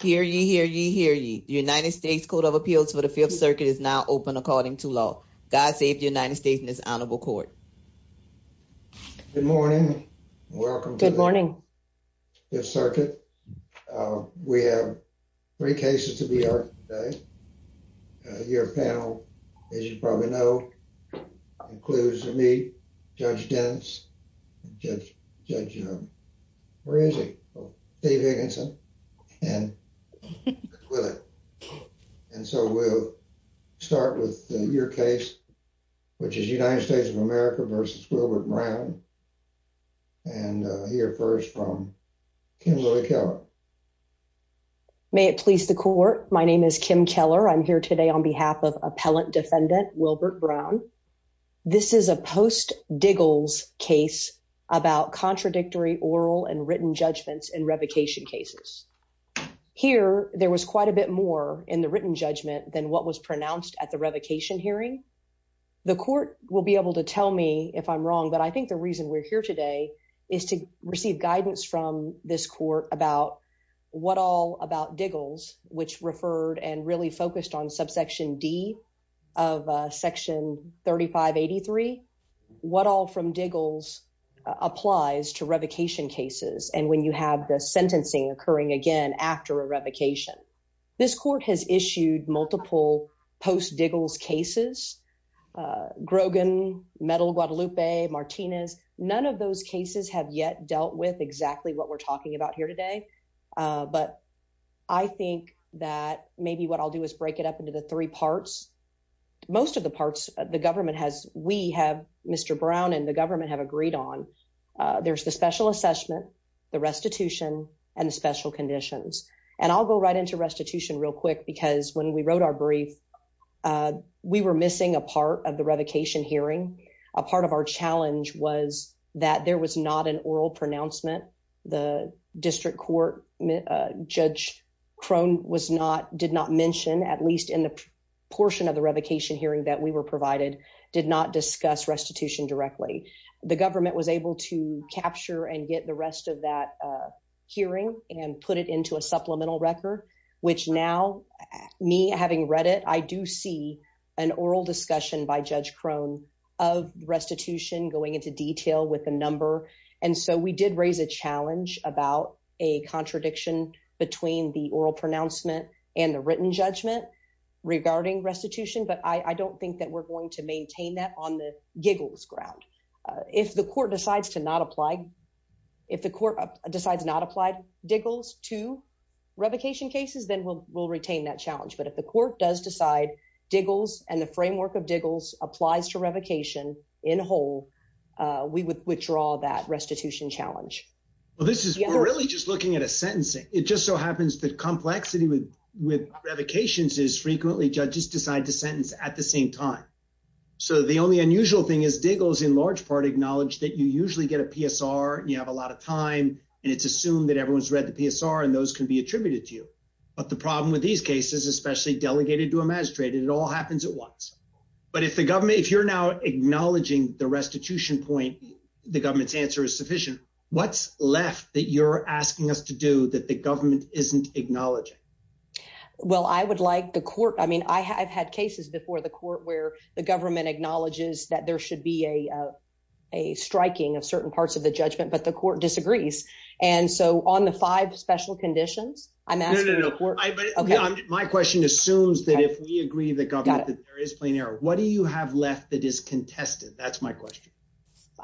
Hear ye, hear ye, hear ye. The United States Code of Appeals for the Fifth Circuit is now open according to law. God save the United States and this honorable court. Good morning. Welcome. Good morning. Fifth Circuit. We have three cases to be heard today. Your panel, as you probably know, includes me, Judge Dennis, Judge, Judge, where is he? Dave Higginson. And so we'll start with your case, which is United States of America versus Wilbert Brown. And hear first from Kimberly Keller. May it please the court. My name is Kim Keller. I'm here today on behalf of Appellant Defendant Wilbert Brown. This is a post-Diggles case about contradictory oral and written judgments in revocation cases. Here, there was quite a bit more in the written judgment than what was pronounced at the revocation hearing. The court will be able to tell me if I'm wrong, but I think the reason we're here today is to receive guidance from this court about what all about Diggles, which referred and really focused on subsection D of section 3583, what all from Diggles applies to revocation cases and when you have the sentencing occurring again after a revocation. This court has issued multiple post-Diggles cases, Grogan, Metal Guadalupe, Martinez. None of those that maybe what I'll do is break it up into the three parts. Most of the parts, the government has, we have Mr. Brown and the government have agreed on. There's the special assessment, the restitution and the special conditions. And I'll go right into restitution real quick because when we wrote our brief, we were missing a part of the revocation hearing. A part of our challenge was that there was not an oral pronouncement. The district court, Judge Crone was not, did not mention, at least in the portion of the revocation hearing that we were provided, did not discuss restitution directly. The government was able to capture and get the rest of that hearing and put it into a supplemental record, which now me having read it, I do see an oral discussion by Judge Crone of restitution going into detail with a number. And so we did raise a challenge about a contradiction between the oral pronouncement and the written judgment regarding restitution. But I don't think that we're going to maintain that on the Giggles ground. If the court decides to not apply, if the court decides not to apply Diggles to revocation cases, then we'll retain that challenge. But if the court does decide Diggles and the framework of Diggles applies to revocation in whole, we would withdraw that restitution challenge. Well, this is really just looking at a sentencing. It just so happens that complexity with revocations is frequently judges decide to sentence at the same time. So the only unusual thing is Diggles in large part acknowledged that you usually get a PSR and you have a lot of time and it's assumed that everyone's read the PSR and those can be happens at once. But if the government, if you're now acknowledging the restitution point, the government's answer is sufficient. What's left that you're asking us to do that the government isn't acknowledging? Well, I would like the court. I mean, I have had cases before the court where the government acknowledges that there should be a, uh, a striking of certain parts of the judgment, but the court disagrees. And so on the five special conditions, I'm asking. Yeah. My question assumes that if we agree with the government that there is plain error, what do you have left that is contested? That's my question.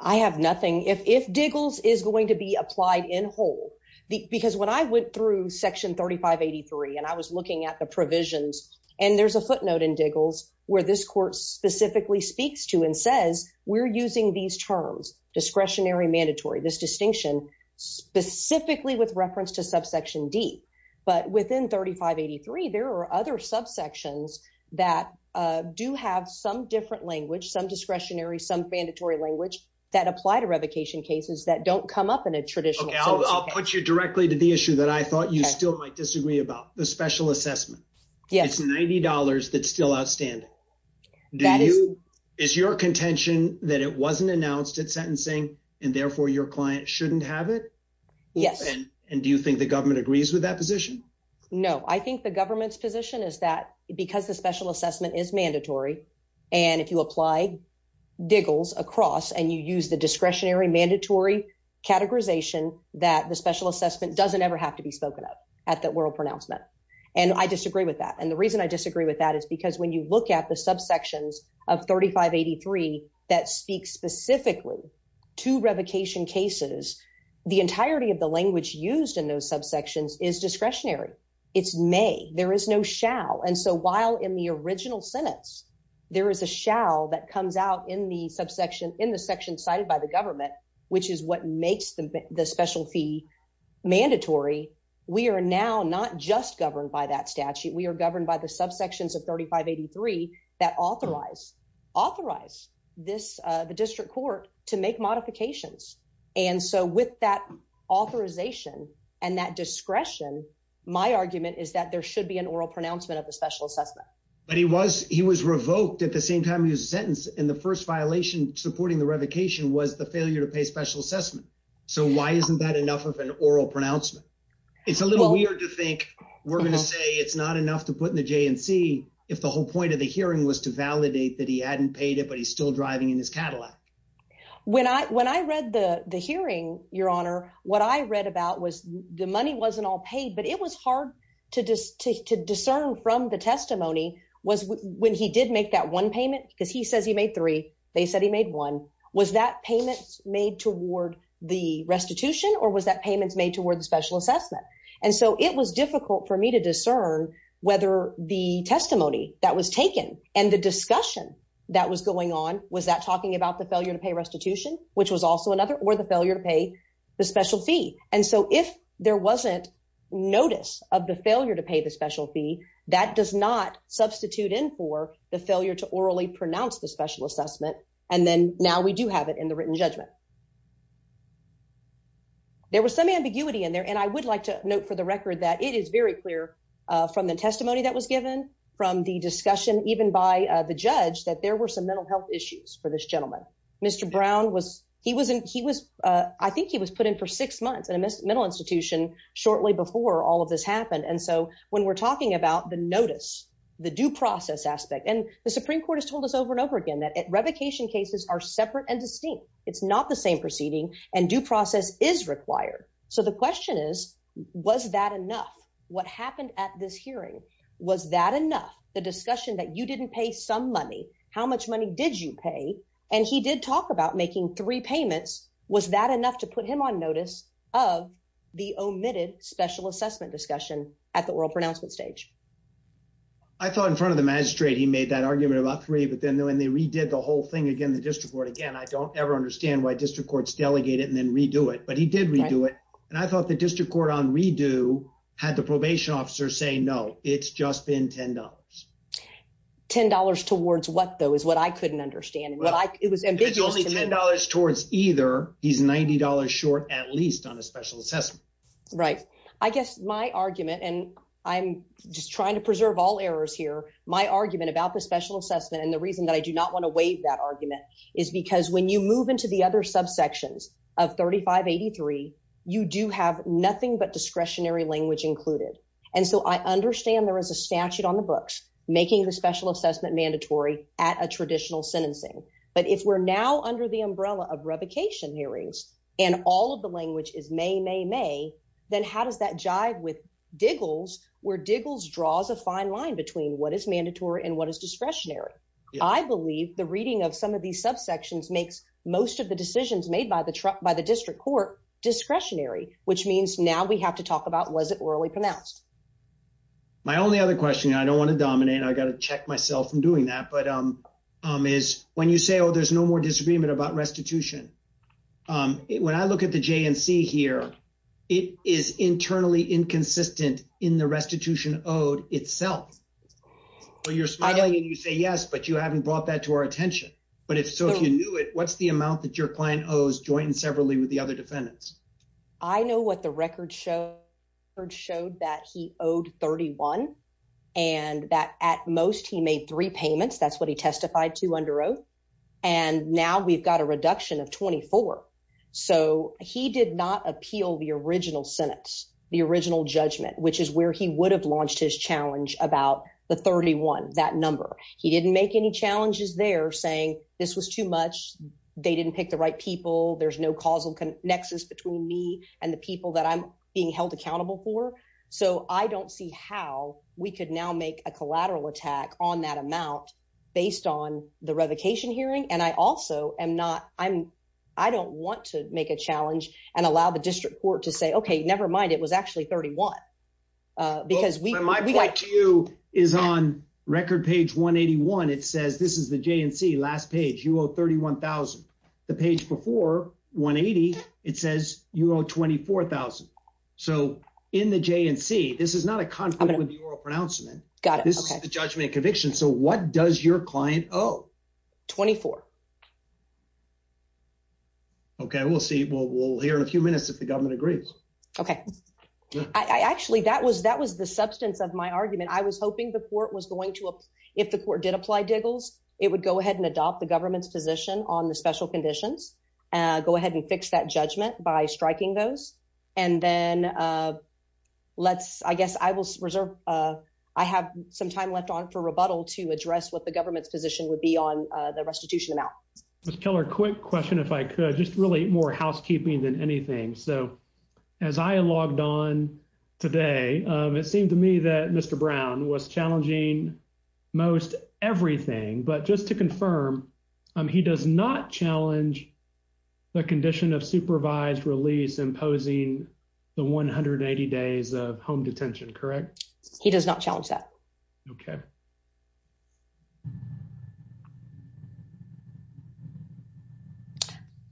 I have nothing. If, if Diggles is going to be applied in whole, because when I went through section 3583 and I was looking at the provisions and there's a footnote in Diggles where this court specifically speaks to and says, we're using these terms, discretionary, mandatory, this distinction specifically with reference to subsection D, but within 3583, there are other subsections that, uh, do have some different language, some discretionary, some mandatory language that apply to revocation cases that don't come up in a traditional. I'll put you directly to the issue that I thought you still might disagree about the special assessment. It's $90. That's still outstanding. That is your contention that it shouldn't have it. Yes. And do you think the government agrees with that position? No, I think the government's position is that because the special assessment is mandatory and if you apply Diggles across and you use the discretionary mandatory categorization that the special assessment doesn't ever have to be spoken up at the world pronouncement. And I disagree with that. And the reason I disagree with that is because when you look at the subsections of 3583 that speak specifically to revocation cases, the entirety of the language used in those subsections is discretionary. It's may there is no shall. And so while in the original sentence, there is a shall that comes out in the subsection in the section cited by the government, which is what makes the special fee mandatory. We are now not just governed by that statute. We are governed by the subsections of 3583 that authorize, authorize this, uh, the district court to make modifications. And so with that authorization and that discretion, my argument is that there should be an oral pronouncement of the special assessment. But he was, he was revoked at the same time he was sentenced. And the first violation supporting the revocation was the failure to pay special assessment. So why isn't that enough of an oral pronouncement? It's a little weird to think we're going to say it's not enough to put in the J and C if the whole point of the hearing was to validate that he hadn't paid it, but he's still driving in his Cadillac. When I, when I read the hearing, your honor, what I read about was the money wasn't all paid, but it was hard to just to, to discern from the testimony was when he did make that one payment, because he the restitution or was that payments made toward the special assessment. And so it was difficult for me to discern whether the testimony that was taken and the discussion that was going on, was that talking about the failure to pay restitution, which was also another or the failure to pay the special fee. And so if there wasn't notice of the failure to pay the special fee that does not substitute in for the failure to orally pronounce the special assessment. And then now we do have it in the written judgment. There was some ambiguity in there. And I would like to note for the record that it is very clear from the testimony that was given from the discussion, even by the judge, that there were some mental health issues for this gentleman. Mr. Brown was, he wasn't, he was I think he was put in for six months in a mental institution shortly before all of this happened. And so when we're talking about the notice, the due process aspect, and the Supreme Court has told us over and over again, that revocation cases are separate and distinct. It's not the same proceeding and due process is required. So the question is, was that enough? What happened at this hearing? Was that enough? The discussion that you didn't pay some money, how much money did you pay? And he did talk about making three payments. Was that enough to put him on notice of the omitted special assessment discussion at the oral pronouncement stage? I thought in front of the magistrate, he made that argument about three, but then when they redid the whole thing again, the district court, again, I don't ever understand why district courts delegate it and then redo it, but he did redo it. And I thought the district court on redo had the probation officer say, no, it's just been $10. $10 towards what though, is what I couldn't understand. It was only $10 towards either. He's $90 short, at least on a special assessment. Right. I guess my argument, and I'm just trying to preserve all errors here, my argument about the special assessment. And the reason that I do not want to waive that argument is because when you move into the other subsections of 3583, you do have nothing but discretionary language included. And so I understand there is a statute on the books, making the special assessment mandatory at a traditional sentencing. But if we're now under the umbrella of revocation hearings, and all of the language is may, may, may, then how does that jive with Diggles, where Diggles draws a fine line between what is mandatory and what is discretionary? I believe the reading of some of these subsections makes most of the decisions made by the district court discretionary, which means now we have to talk about, was it orally pronounced? My only other question, and I don't want to dominate, I got to check myself from doing that, is when you say, oh, there's no more disagreement about restitution. When I look at the JNC here, it is internally inconsistent in the restitution owed itself. So you're smiling and you say, yes, but you haven't brought that to our attention. But if so, if you knew it, what's the amount that your client owes joint and severally with the other defendants? I know what the record showed, showed that he made three payments. That's what he testified to under oath. And now we've got a reduction of 24. So he did not appeal the original sentence, the original judgment, which is where he would have launched his challenge about the 31, that number. He didn't make any challenges there saying this was too much. They didn't pick the right people. There's no causal nexus between me and the people that I'm being held accountable for. So I don't see how we could now make a collateral attack on that amount based on the revocation hearing. And I also am not, I'm, I don't want to make a challenge and allow the district court to say, okay, nevermind. It was actually 31. Because my point to you is on record page 181. It says, this is the JNC last page you owe 31,000. The page before 180, it says you owe 24,000. So in the JNC, this is not a conflict with the conviction. So what does your client owe? 24. Okay. We'll see. We'll we'll hear in a few minutes if the government agrees. Okay. I actually, that was, that was the substance of my argument. I was hoping the court was going to, if the court did apply diggles, it would go ahead and adopt the government's position on the special conditions. Uh, go ahead and fix that judgment by striking those. And then, uh, let's, I guess I will reserve, uh, I have some time left on for rebuttal to address what the government's position would be on, uh, the restitution amount. Ms. Keller, quick question, if I could just really more housekeeping than anything. So as I logged on today, um, it seemed to me that Mr. Brown was challenging most everything, but just to confirm, um, he does not challenge the condition of supervised release imposing the 180 days of home detention, correct? He does not challenge that. Okay.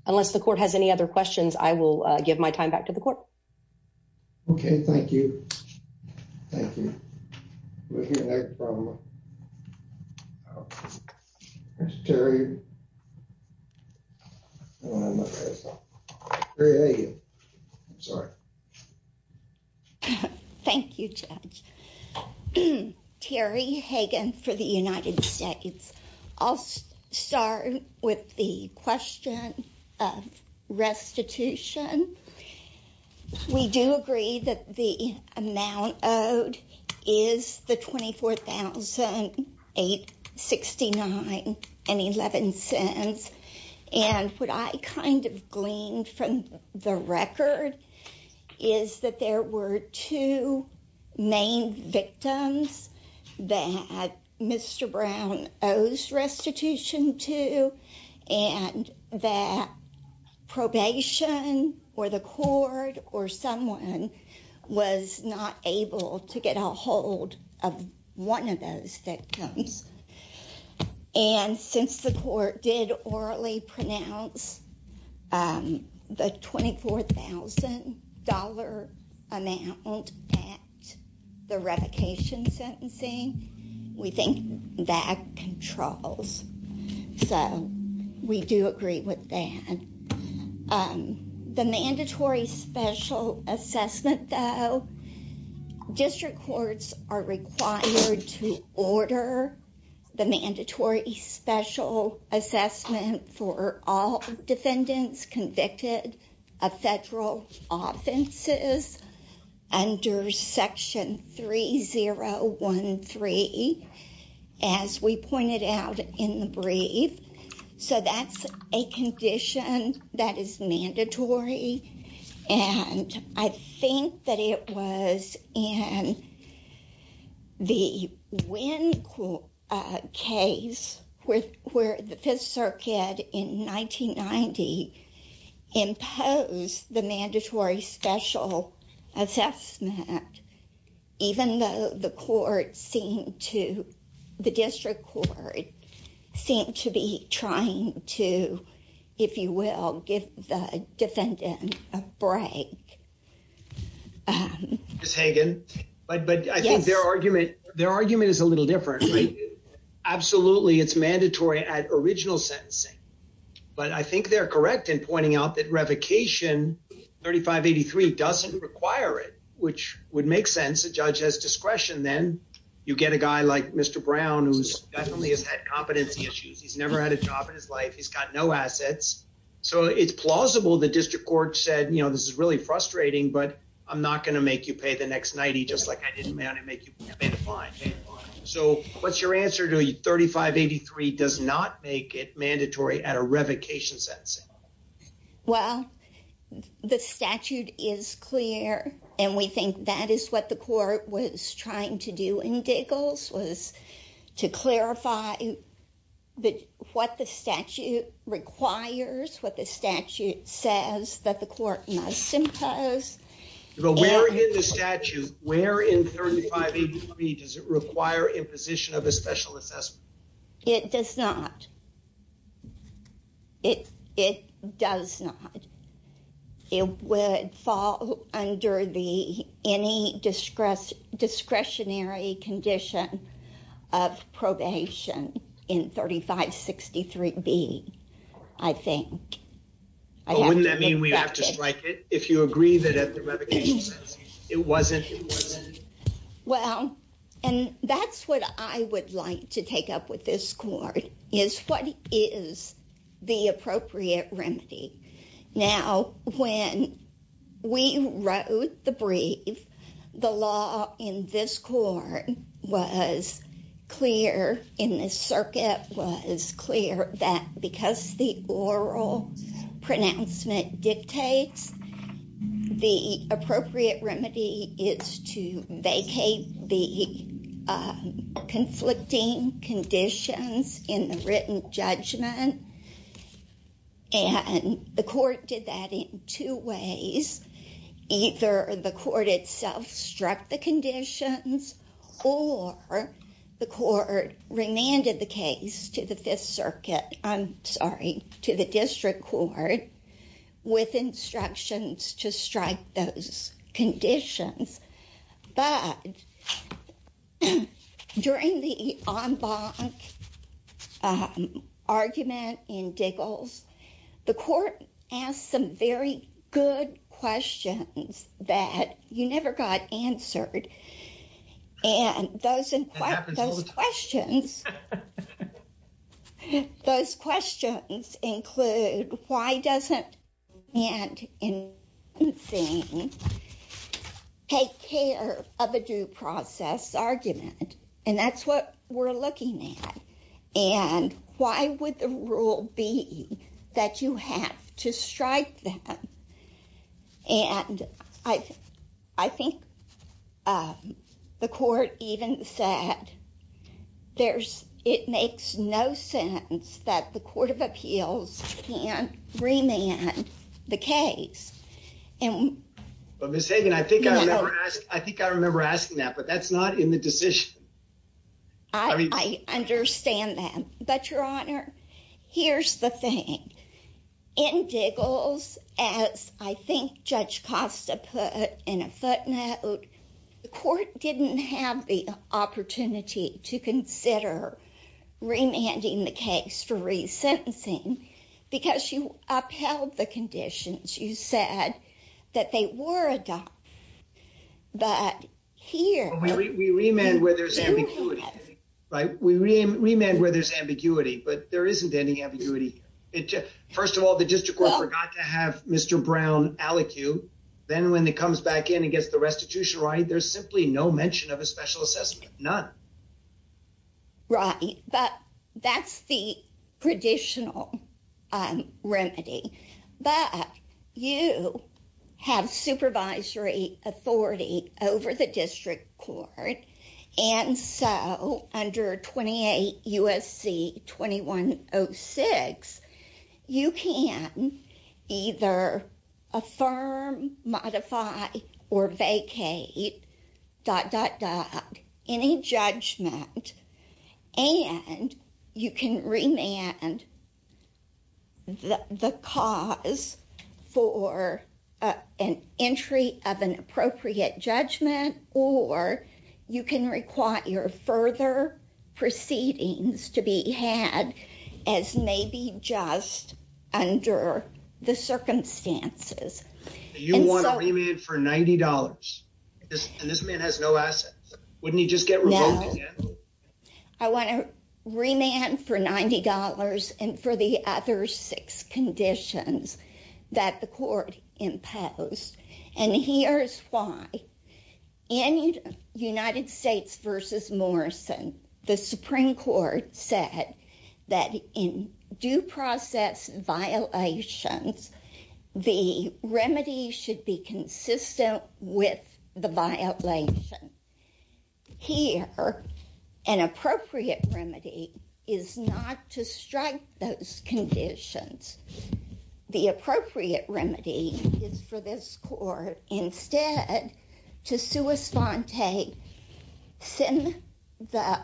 Unless the court has any other questions, I will give my time back to the court. Okay. Thank you. Thank you. Thank you, Terry Hagan for the United States. I'll start with the question of restitution. We do agree that the amount owed is the $24,869.11. And what I kind of gleaned from the record is that there were two main victims that Mr. Brown owes restitution to, and that someone was not able to get a hold of one of those victims. And since the court did orally pronounce, um, the $24,000 amount at the revocation sentencing, we think that controls. So we do agree with that. Um, the mandatory special assessment though, district courts are required to order the mandatory special assessment for all defendants convicted of federal offenses under section 3013, as we pointed out in the brief. So that's a condition that is mandatory. And I think that it was in the Wynn case where the fifth circuit in 1990 imposed the mandatory special assessment, even though the court seemed to, the district court seemed to be trying to, if you will, give the defendant a break. Ms. Hagan, but, but I think their argument, their argument is a little different. Absolutely. It's mandatory at original sentencing, but I think they're correct in pointing out that revocation 3583 doesn't require it, which would make sense. The judge has discretion. Then you get a guy like Mr. Brown, who's definitely has had competency issues. He's never had a job in his life. He's got no assets. So it's plausible. The district court said, you know, this is really frustrating, but I'm not going to make you pay the next 90, just like I answered to you. 3583 does not make it mandatory at a revocation sentence. Well, the statute is clear and we think that is what the court was trying to do in Diggles was to clarify that what the statute requires, what the statute says that the court must impose. But where in the statute, where in 3583 does it require imposition of a special assessment? It does not. It, it does not. It would fall under the, any discretionary condition of probation in 3563B, I think. Wouldn't that mean we have to strike it? If you agree that at the revocation sentence, it wasn't. Well, and that's what I would like to take up with this court is what is the appropriate remedy. Now, when we wrote the brief, the law in this court was clear in this pronouncement dictates the appropriate remedy is to vacate the conflicting conditions in the written judgment. And the court did that in two ways. Either the court itself struck the conditions or the court remanded the case to the fifth circuit, I'm sorry, to the district court with instructions to strike those conditions. But during the en banc argument in Diggles, the court asked some very good questions that you never got answered. And those, those questions, those questions include, why doesn't it take care of a due process argument? And that's what we're looking at. And why would the rule be that you have to strike that? And I, I think the court even said, there's, it makes no sense that the court of appeals can't remand the case. And. But Ms. Hagan, I think I remember asking that, but that's not in the decision. I mean, I understand that, but Your Honor, here's the thing. In Diggles, as I think Judge Costa put in a footnote, the court didn't have the opportunity to consider remanding the case for resentencing because you upheld the conditions. You said that they were adopted. But here. We remand where there's ambiguity, right? We remand where there's ambiguity, but there isn't any ambiguity. First of all, the district court forgot to have Mr. Brown allocue. Then when it comes back in and gets the restitution right, there's simply no mention of a special assessment. None. Right. But that's the traditional remedy. But you have supervisory authority over the district court. And so under 28 U.S.C. 2106, you can either affirm, modify, or vacate any judgment. And you can remand the cause for an entry of an appropriate judgment, or you can require further proceedings to be had as maybe just under the circumstances. You want to remand for $90? And this man has no assets. Wouldn't he just get revoked again? I want to remand for $90 and for the other six conditions that the court imposed. And here's why. In United States v. Morrison, the Supreme Court said that in due process violations, the remedy should be consistent with the violation. Here, an appropriate remedy is not to strike those conditions. The appropriate remedy is for this court instead to sua sponte,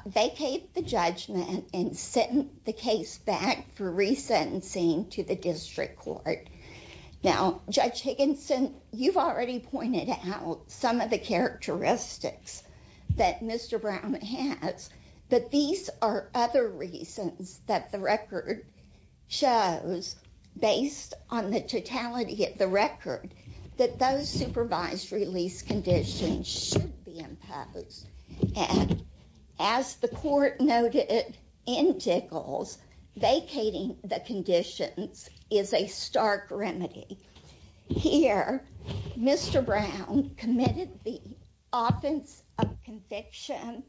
vacate the judgment, and send the case back for resentencing to the district court. Now, Judge Higginson, you've already pointed out some of the characteristics that Mr. Brown has. But these are other reasons that the record shows, based on the totality of the record, that those supervised release conditions should be imposed. And as the court noted in Tickles, vacating the conditions is a stark remedy. Here, Mr. Brown committed the offense of conviction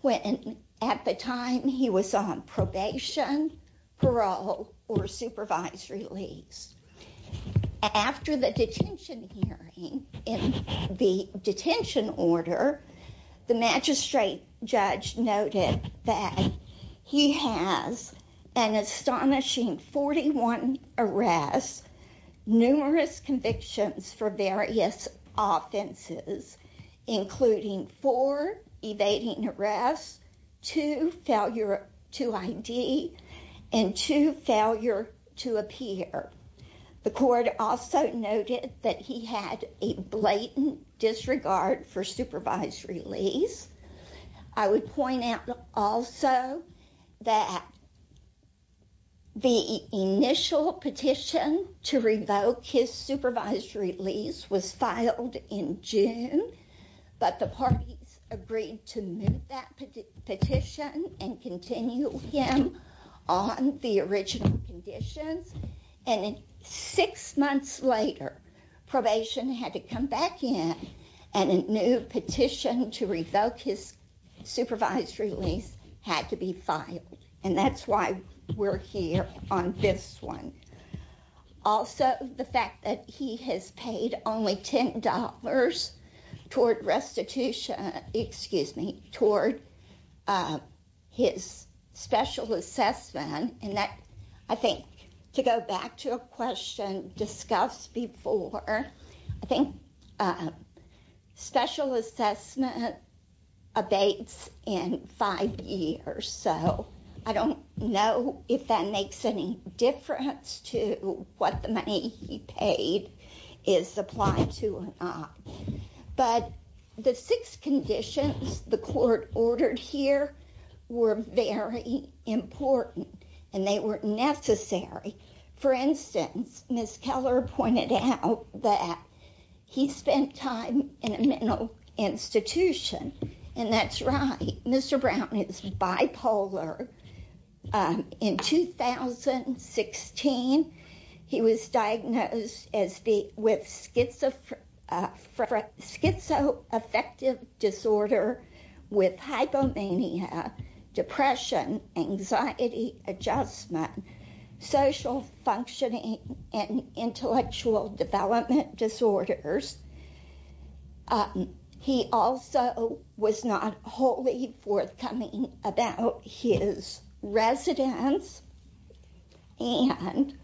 when at the time he was on probation, parole, or supervised release. After the detention hearing in the detention order, the magistrate judge noted that he has an astonishing 41 arrests, numerous convictions for various offenses, including four evading arrests, two failure to ID, and two failure to appear. The court also noted that he had a blatant disregard for supervised release. I would point out also that the initial petition to revoke his supervised release was filed in June, but the parties agreed to move that petition and continue him on the original conditions. And six months later, probation had to come back in, and a new petition to revoke his supervised release had to be filed. And that's why we're here on this one. Also, the fact that he has paid only $10 toward restitution, excuse me, toward his special assessment, and that, I think, to go back to a question discussed before, I think special assessment abates in five years. So I don't know if that makes any difference to what the money he paid is applied to or not. But the six conditions the court ordered here were very important, and they were necessary. For instance, Ms. Keller pointed out that he spent time in a mental institution, and that's right. Mr. Brown is bipolar. In 2016, he was diagnosed with schizoaffective disorder with hypomania, depression, anxiety adjustment, social functioning, and intellectual development disorders. He also was not wholly forthcoming about his residence, and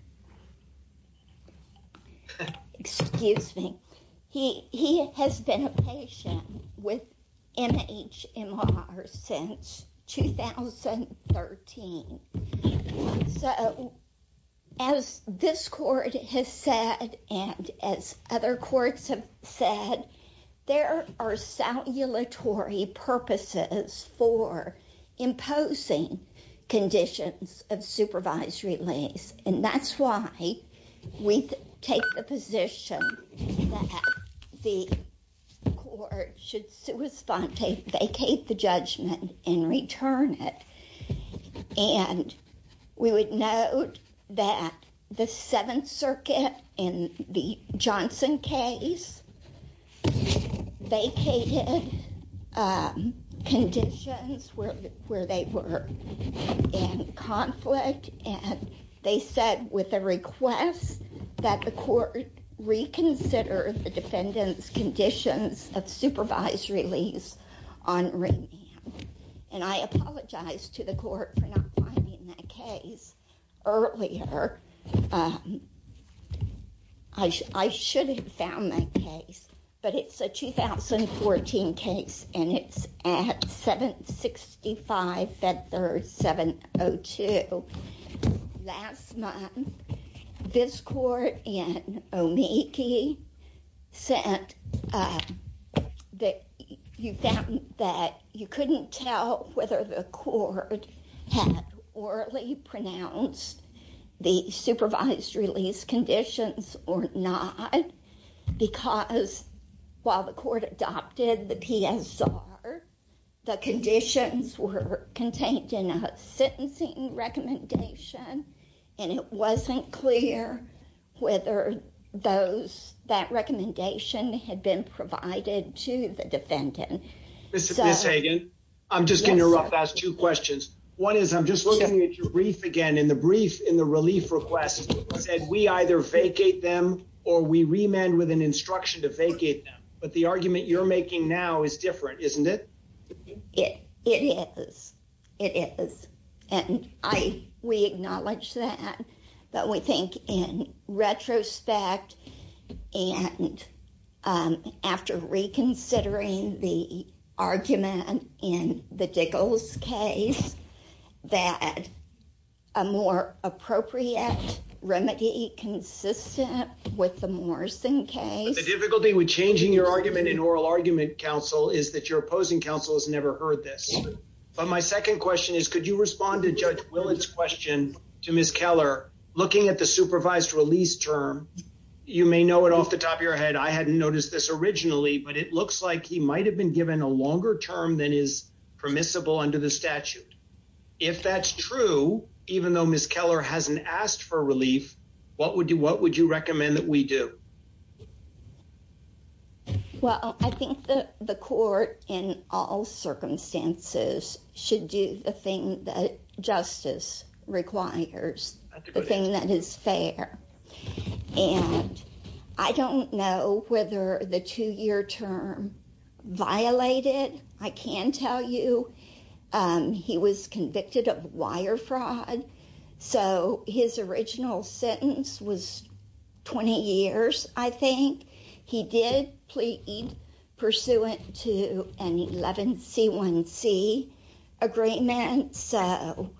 excuse me, he has been a patient with MHMR since 2013. So as this court has said, and as other courts have said, there are salutary purposes for imposing conditions of supervised release, and that's why we take the position that the court should vacate the judgment and return it. And we would note that the Seventh Circuit in the Johnson case vacated conditions where they were in conflict, and they said with a request that the court reconsider the defendant's conditions of supervised release on remand. And I apologize to the court for not finding that case earlier. I should have found that case, but it's a 2014 case, and it's at 765 Fed Third 702. Last month, this court in Omiki said that you couldn't tell whether the court had orally pronounced the supervised release conditions or not, because while the court adopted the PSR, the conditions were contained in a sentencing recommendation, and it wasn't clear whether that recommendation had been provided to the defendant. Mr. Hagan, I'm just going to ask two questions. One is, I'm just looking at your brief again, and the brief in the relief request said we either vacate them or we remand with an instruction to now is different, isn't it? It is. It is. And we acknowledge that, but we think in retrospect and after reconsidering the argument in the Diggles case that a more appropriate remedy consistent with the Morrison case. The difficulty with changing your argument in oral argument counsel is that your opposing counsel has never heard this. But my second question is, could you respond to Judge Willett's question to Ms. Keller? Looking at the supervised release term, you may know it off the top of your head. I hadn't noticed this originally, but it looks like he might have been given a longer term than is permissible under the statute. If that's true, even though Ms. Keller hasn't asked for relief, what would you recommend that we do? Well, I think the court in all circumstances should do the thing that justice requires, the thing that is fair. And I don't know whether the two-year term violated. I can tell you he was convicted of wire fraud. So his original sentence was 20 years, I think. He did plead pursuant to an 11C1C agreement. So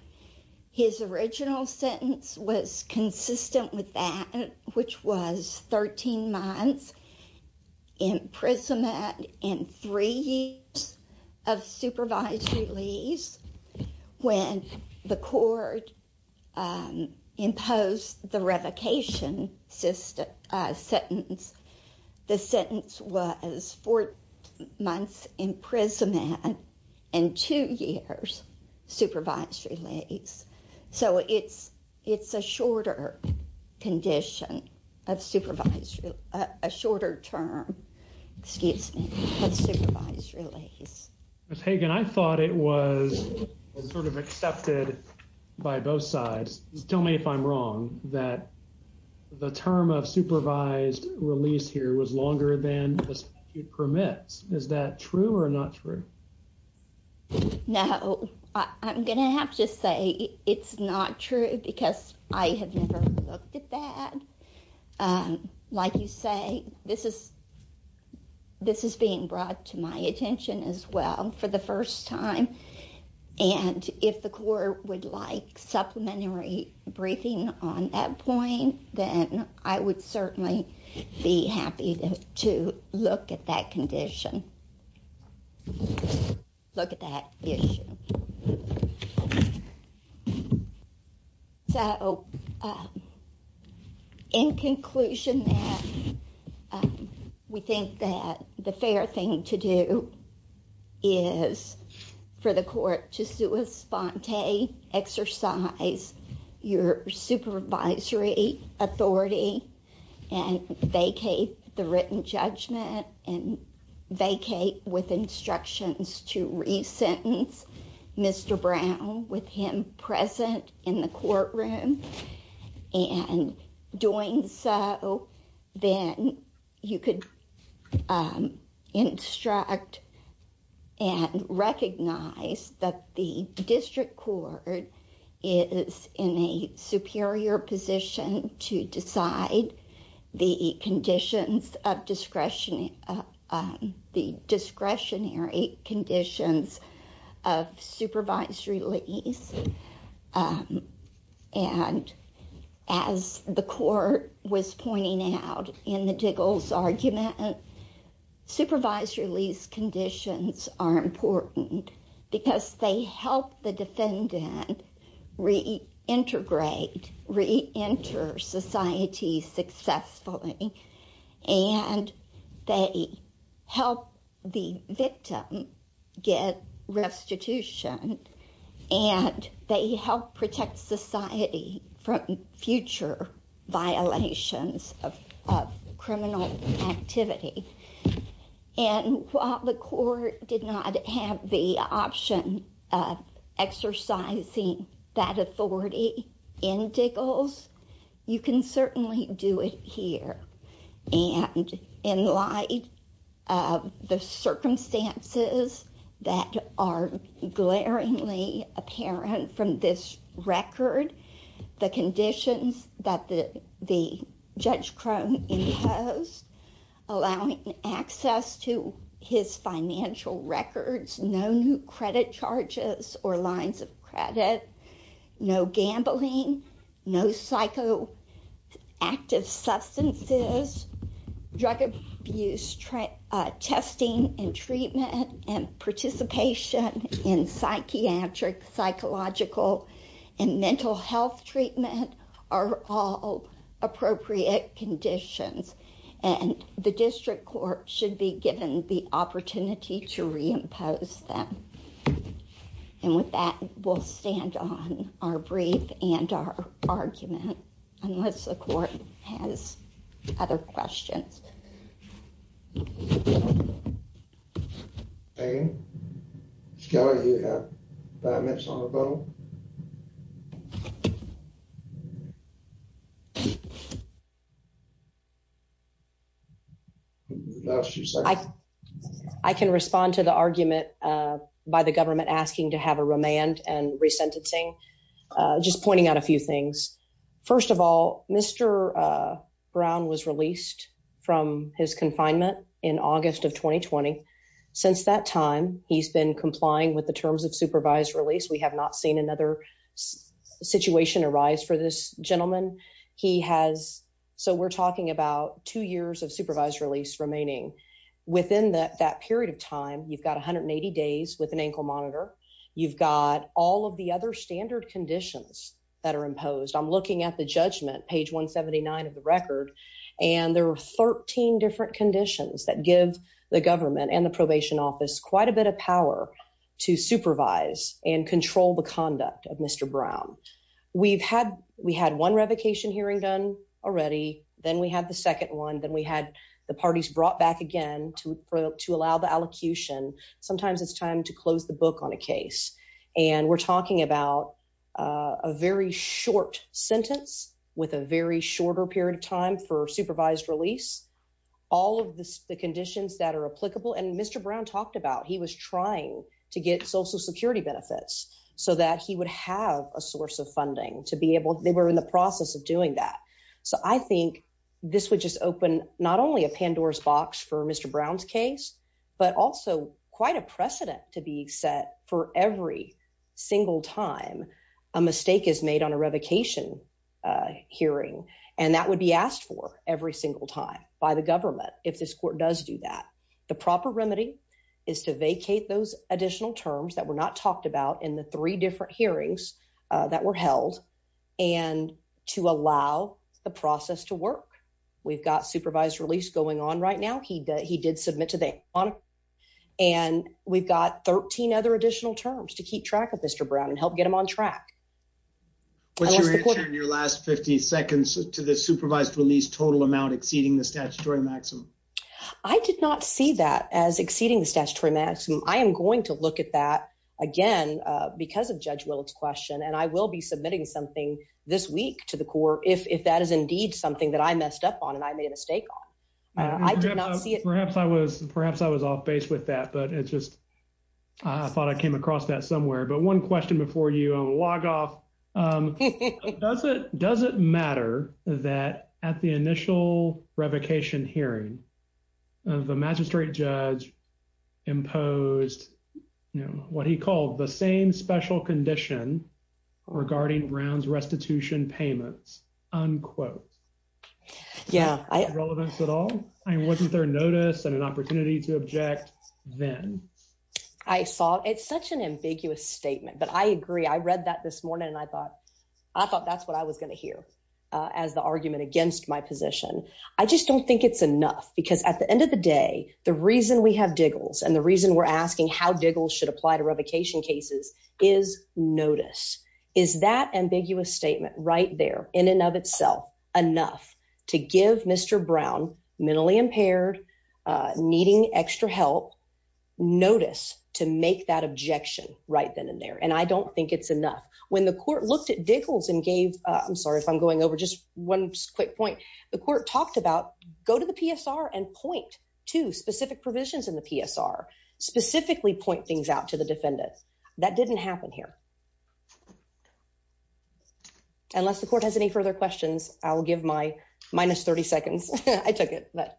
his original sentence was consistent with that, which was 13 months imprisonment and three years of supervised release. When the court imposed the revocation sentence, the sentence was four months imprisonment and two years supervised release. So it's a shorter term of supervised release. Ms. Hagan, I thought it was sort of accepted by both sides. Tell me if I'm wrong that the term of supervised release here was longer than the statute permits. Is that true or not true? No. I'm going to have to say it's not true because I have never looked at that. Like you say, this is being brought to my attention as well for the first time. And if the court would like supplementary briefing on that point, then I would certainly be happy to look at that condition. Look at that issue. So in conclusion, we think that the fair thing to do is for the court to sui sponte, exercise your supervisory authority, and vacate the written judgment, and vacate with instructions to re-sentence Mr. Brown with him present in the courtroom. And doing so, then you could instruct and recognize that the district court is in a superior position to decide the discretionary conditions of supervisory release. And as the court was pointing out in the Diggles argument, supervisory release conditions are important because they help the defendant reintegrate, reenter society successfully, and they help the victim get restitution, and they help protect society from future violations of criminal activity. And while the court did not have the option of exercising that authority in Diggles, you can certainly do it here. And in light of the circumstances that are glaringly apparent from this record, the conditions that Judge Crone imposed, allowing access to his financial records, no new credit charges or lines of credit, no gambling, no psychoactive substances, drug abuse testing and treatment, and participation in psychiatric, psychological, and mental health treatment are all appropriate conditions. And the district court should be given the opportunity to reimpose them. And with that, we'll stand on our brief and our argument, unless the court has other questions. I can respond to the argument by the government asking to have a remand and resentencing, just pointing out a few things. First of all, Mr. Brown was released from his confinement in August of 2020. Since that time, he's been complying with the terms of supervised release. We have not seen another situation arise for this gentleman. He has, so we're talking about two years of supervised release remaining. Within that period of time, you've got 180 days with an standard conditions that are imposed. I'm looking at the judgment, page 179 of the record, and there are 13 different conditions that give the government and the probation office quite a bit of power to supervise and control the conduct of Mr. Brown. We had one revocation hearing done already, then we had the second one, then we had the parties brought back again to allow the allocution. Sometimes it's time to close the book on a case. We're talking about a very short sentence with a very shorter period of time for supervised release. All of the conditions that are applicable, and Mr. Brown talked about, he was trying to get social security benefits so that he would have a source of funding to be able, they were in the process of doing that. I think this would just open not only a Pandora's box for Mr. Brown's case, but also quite a precedent to be set for every single time a mistake is made on a revocation hearing, and that would be asked for every single time by the government if this court does do that. The proper remedy is to vacate those additional terms that were not talked about in the three different hearings that were held, and to allow the process to work. We've got 13 other additional terms to keep track of Mr. Brown and help get him on track. What's your answer in your last 50 seconds to the supervised release total amount exceeding the statutory maximum? I did not see that as exceeding the statutory maximum. I am going to look at that again because of Judge Willard's question, and I will be submitting something this week to the court if that is indeed something that I messed up on and I made a mistake on. Perhaps I was off base with that, but I thought I came across that somewhere, but one question before you log off. Does it matter that at the initial revocation hearing, the magistrate judge imposed what he called the same special condition regarding Brown's restitution payments? Unquote. Yeah. Relevance at all? I mean, wasn't there notice and an opportunity to object then? I saw it's such an ambiguous statement, but I agree. I read that this morning, and I thought that's what I was going to hear as the argument against my position. I just don't think it's enough because at the end of the day, the reason we have Diggles and the reason we're asking how Diggles should apply to revocation cases is notice. Is that ambiguous statement right there in and of itself enough to give Mr. Brown, mentally impaired, needing extra help, notice to make that objection right then and there? And I don't think it's enough. When the court looked at Diggles and gave, I'm sorry if I'm going over just one quick point, the court talked about go to the PSR and point to specific that didn't happen here. Unless the court has any further questions, I'll give my minus 30 seconds. I took it, but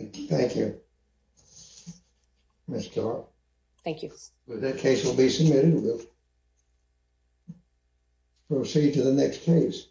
thank you, Mr. Thank you. That case will be submitted. We'll proceed to the next case.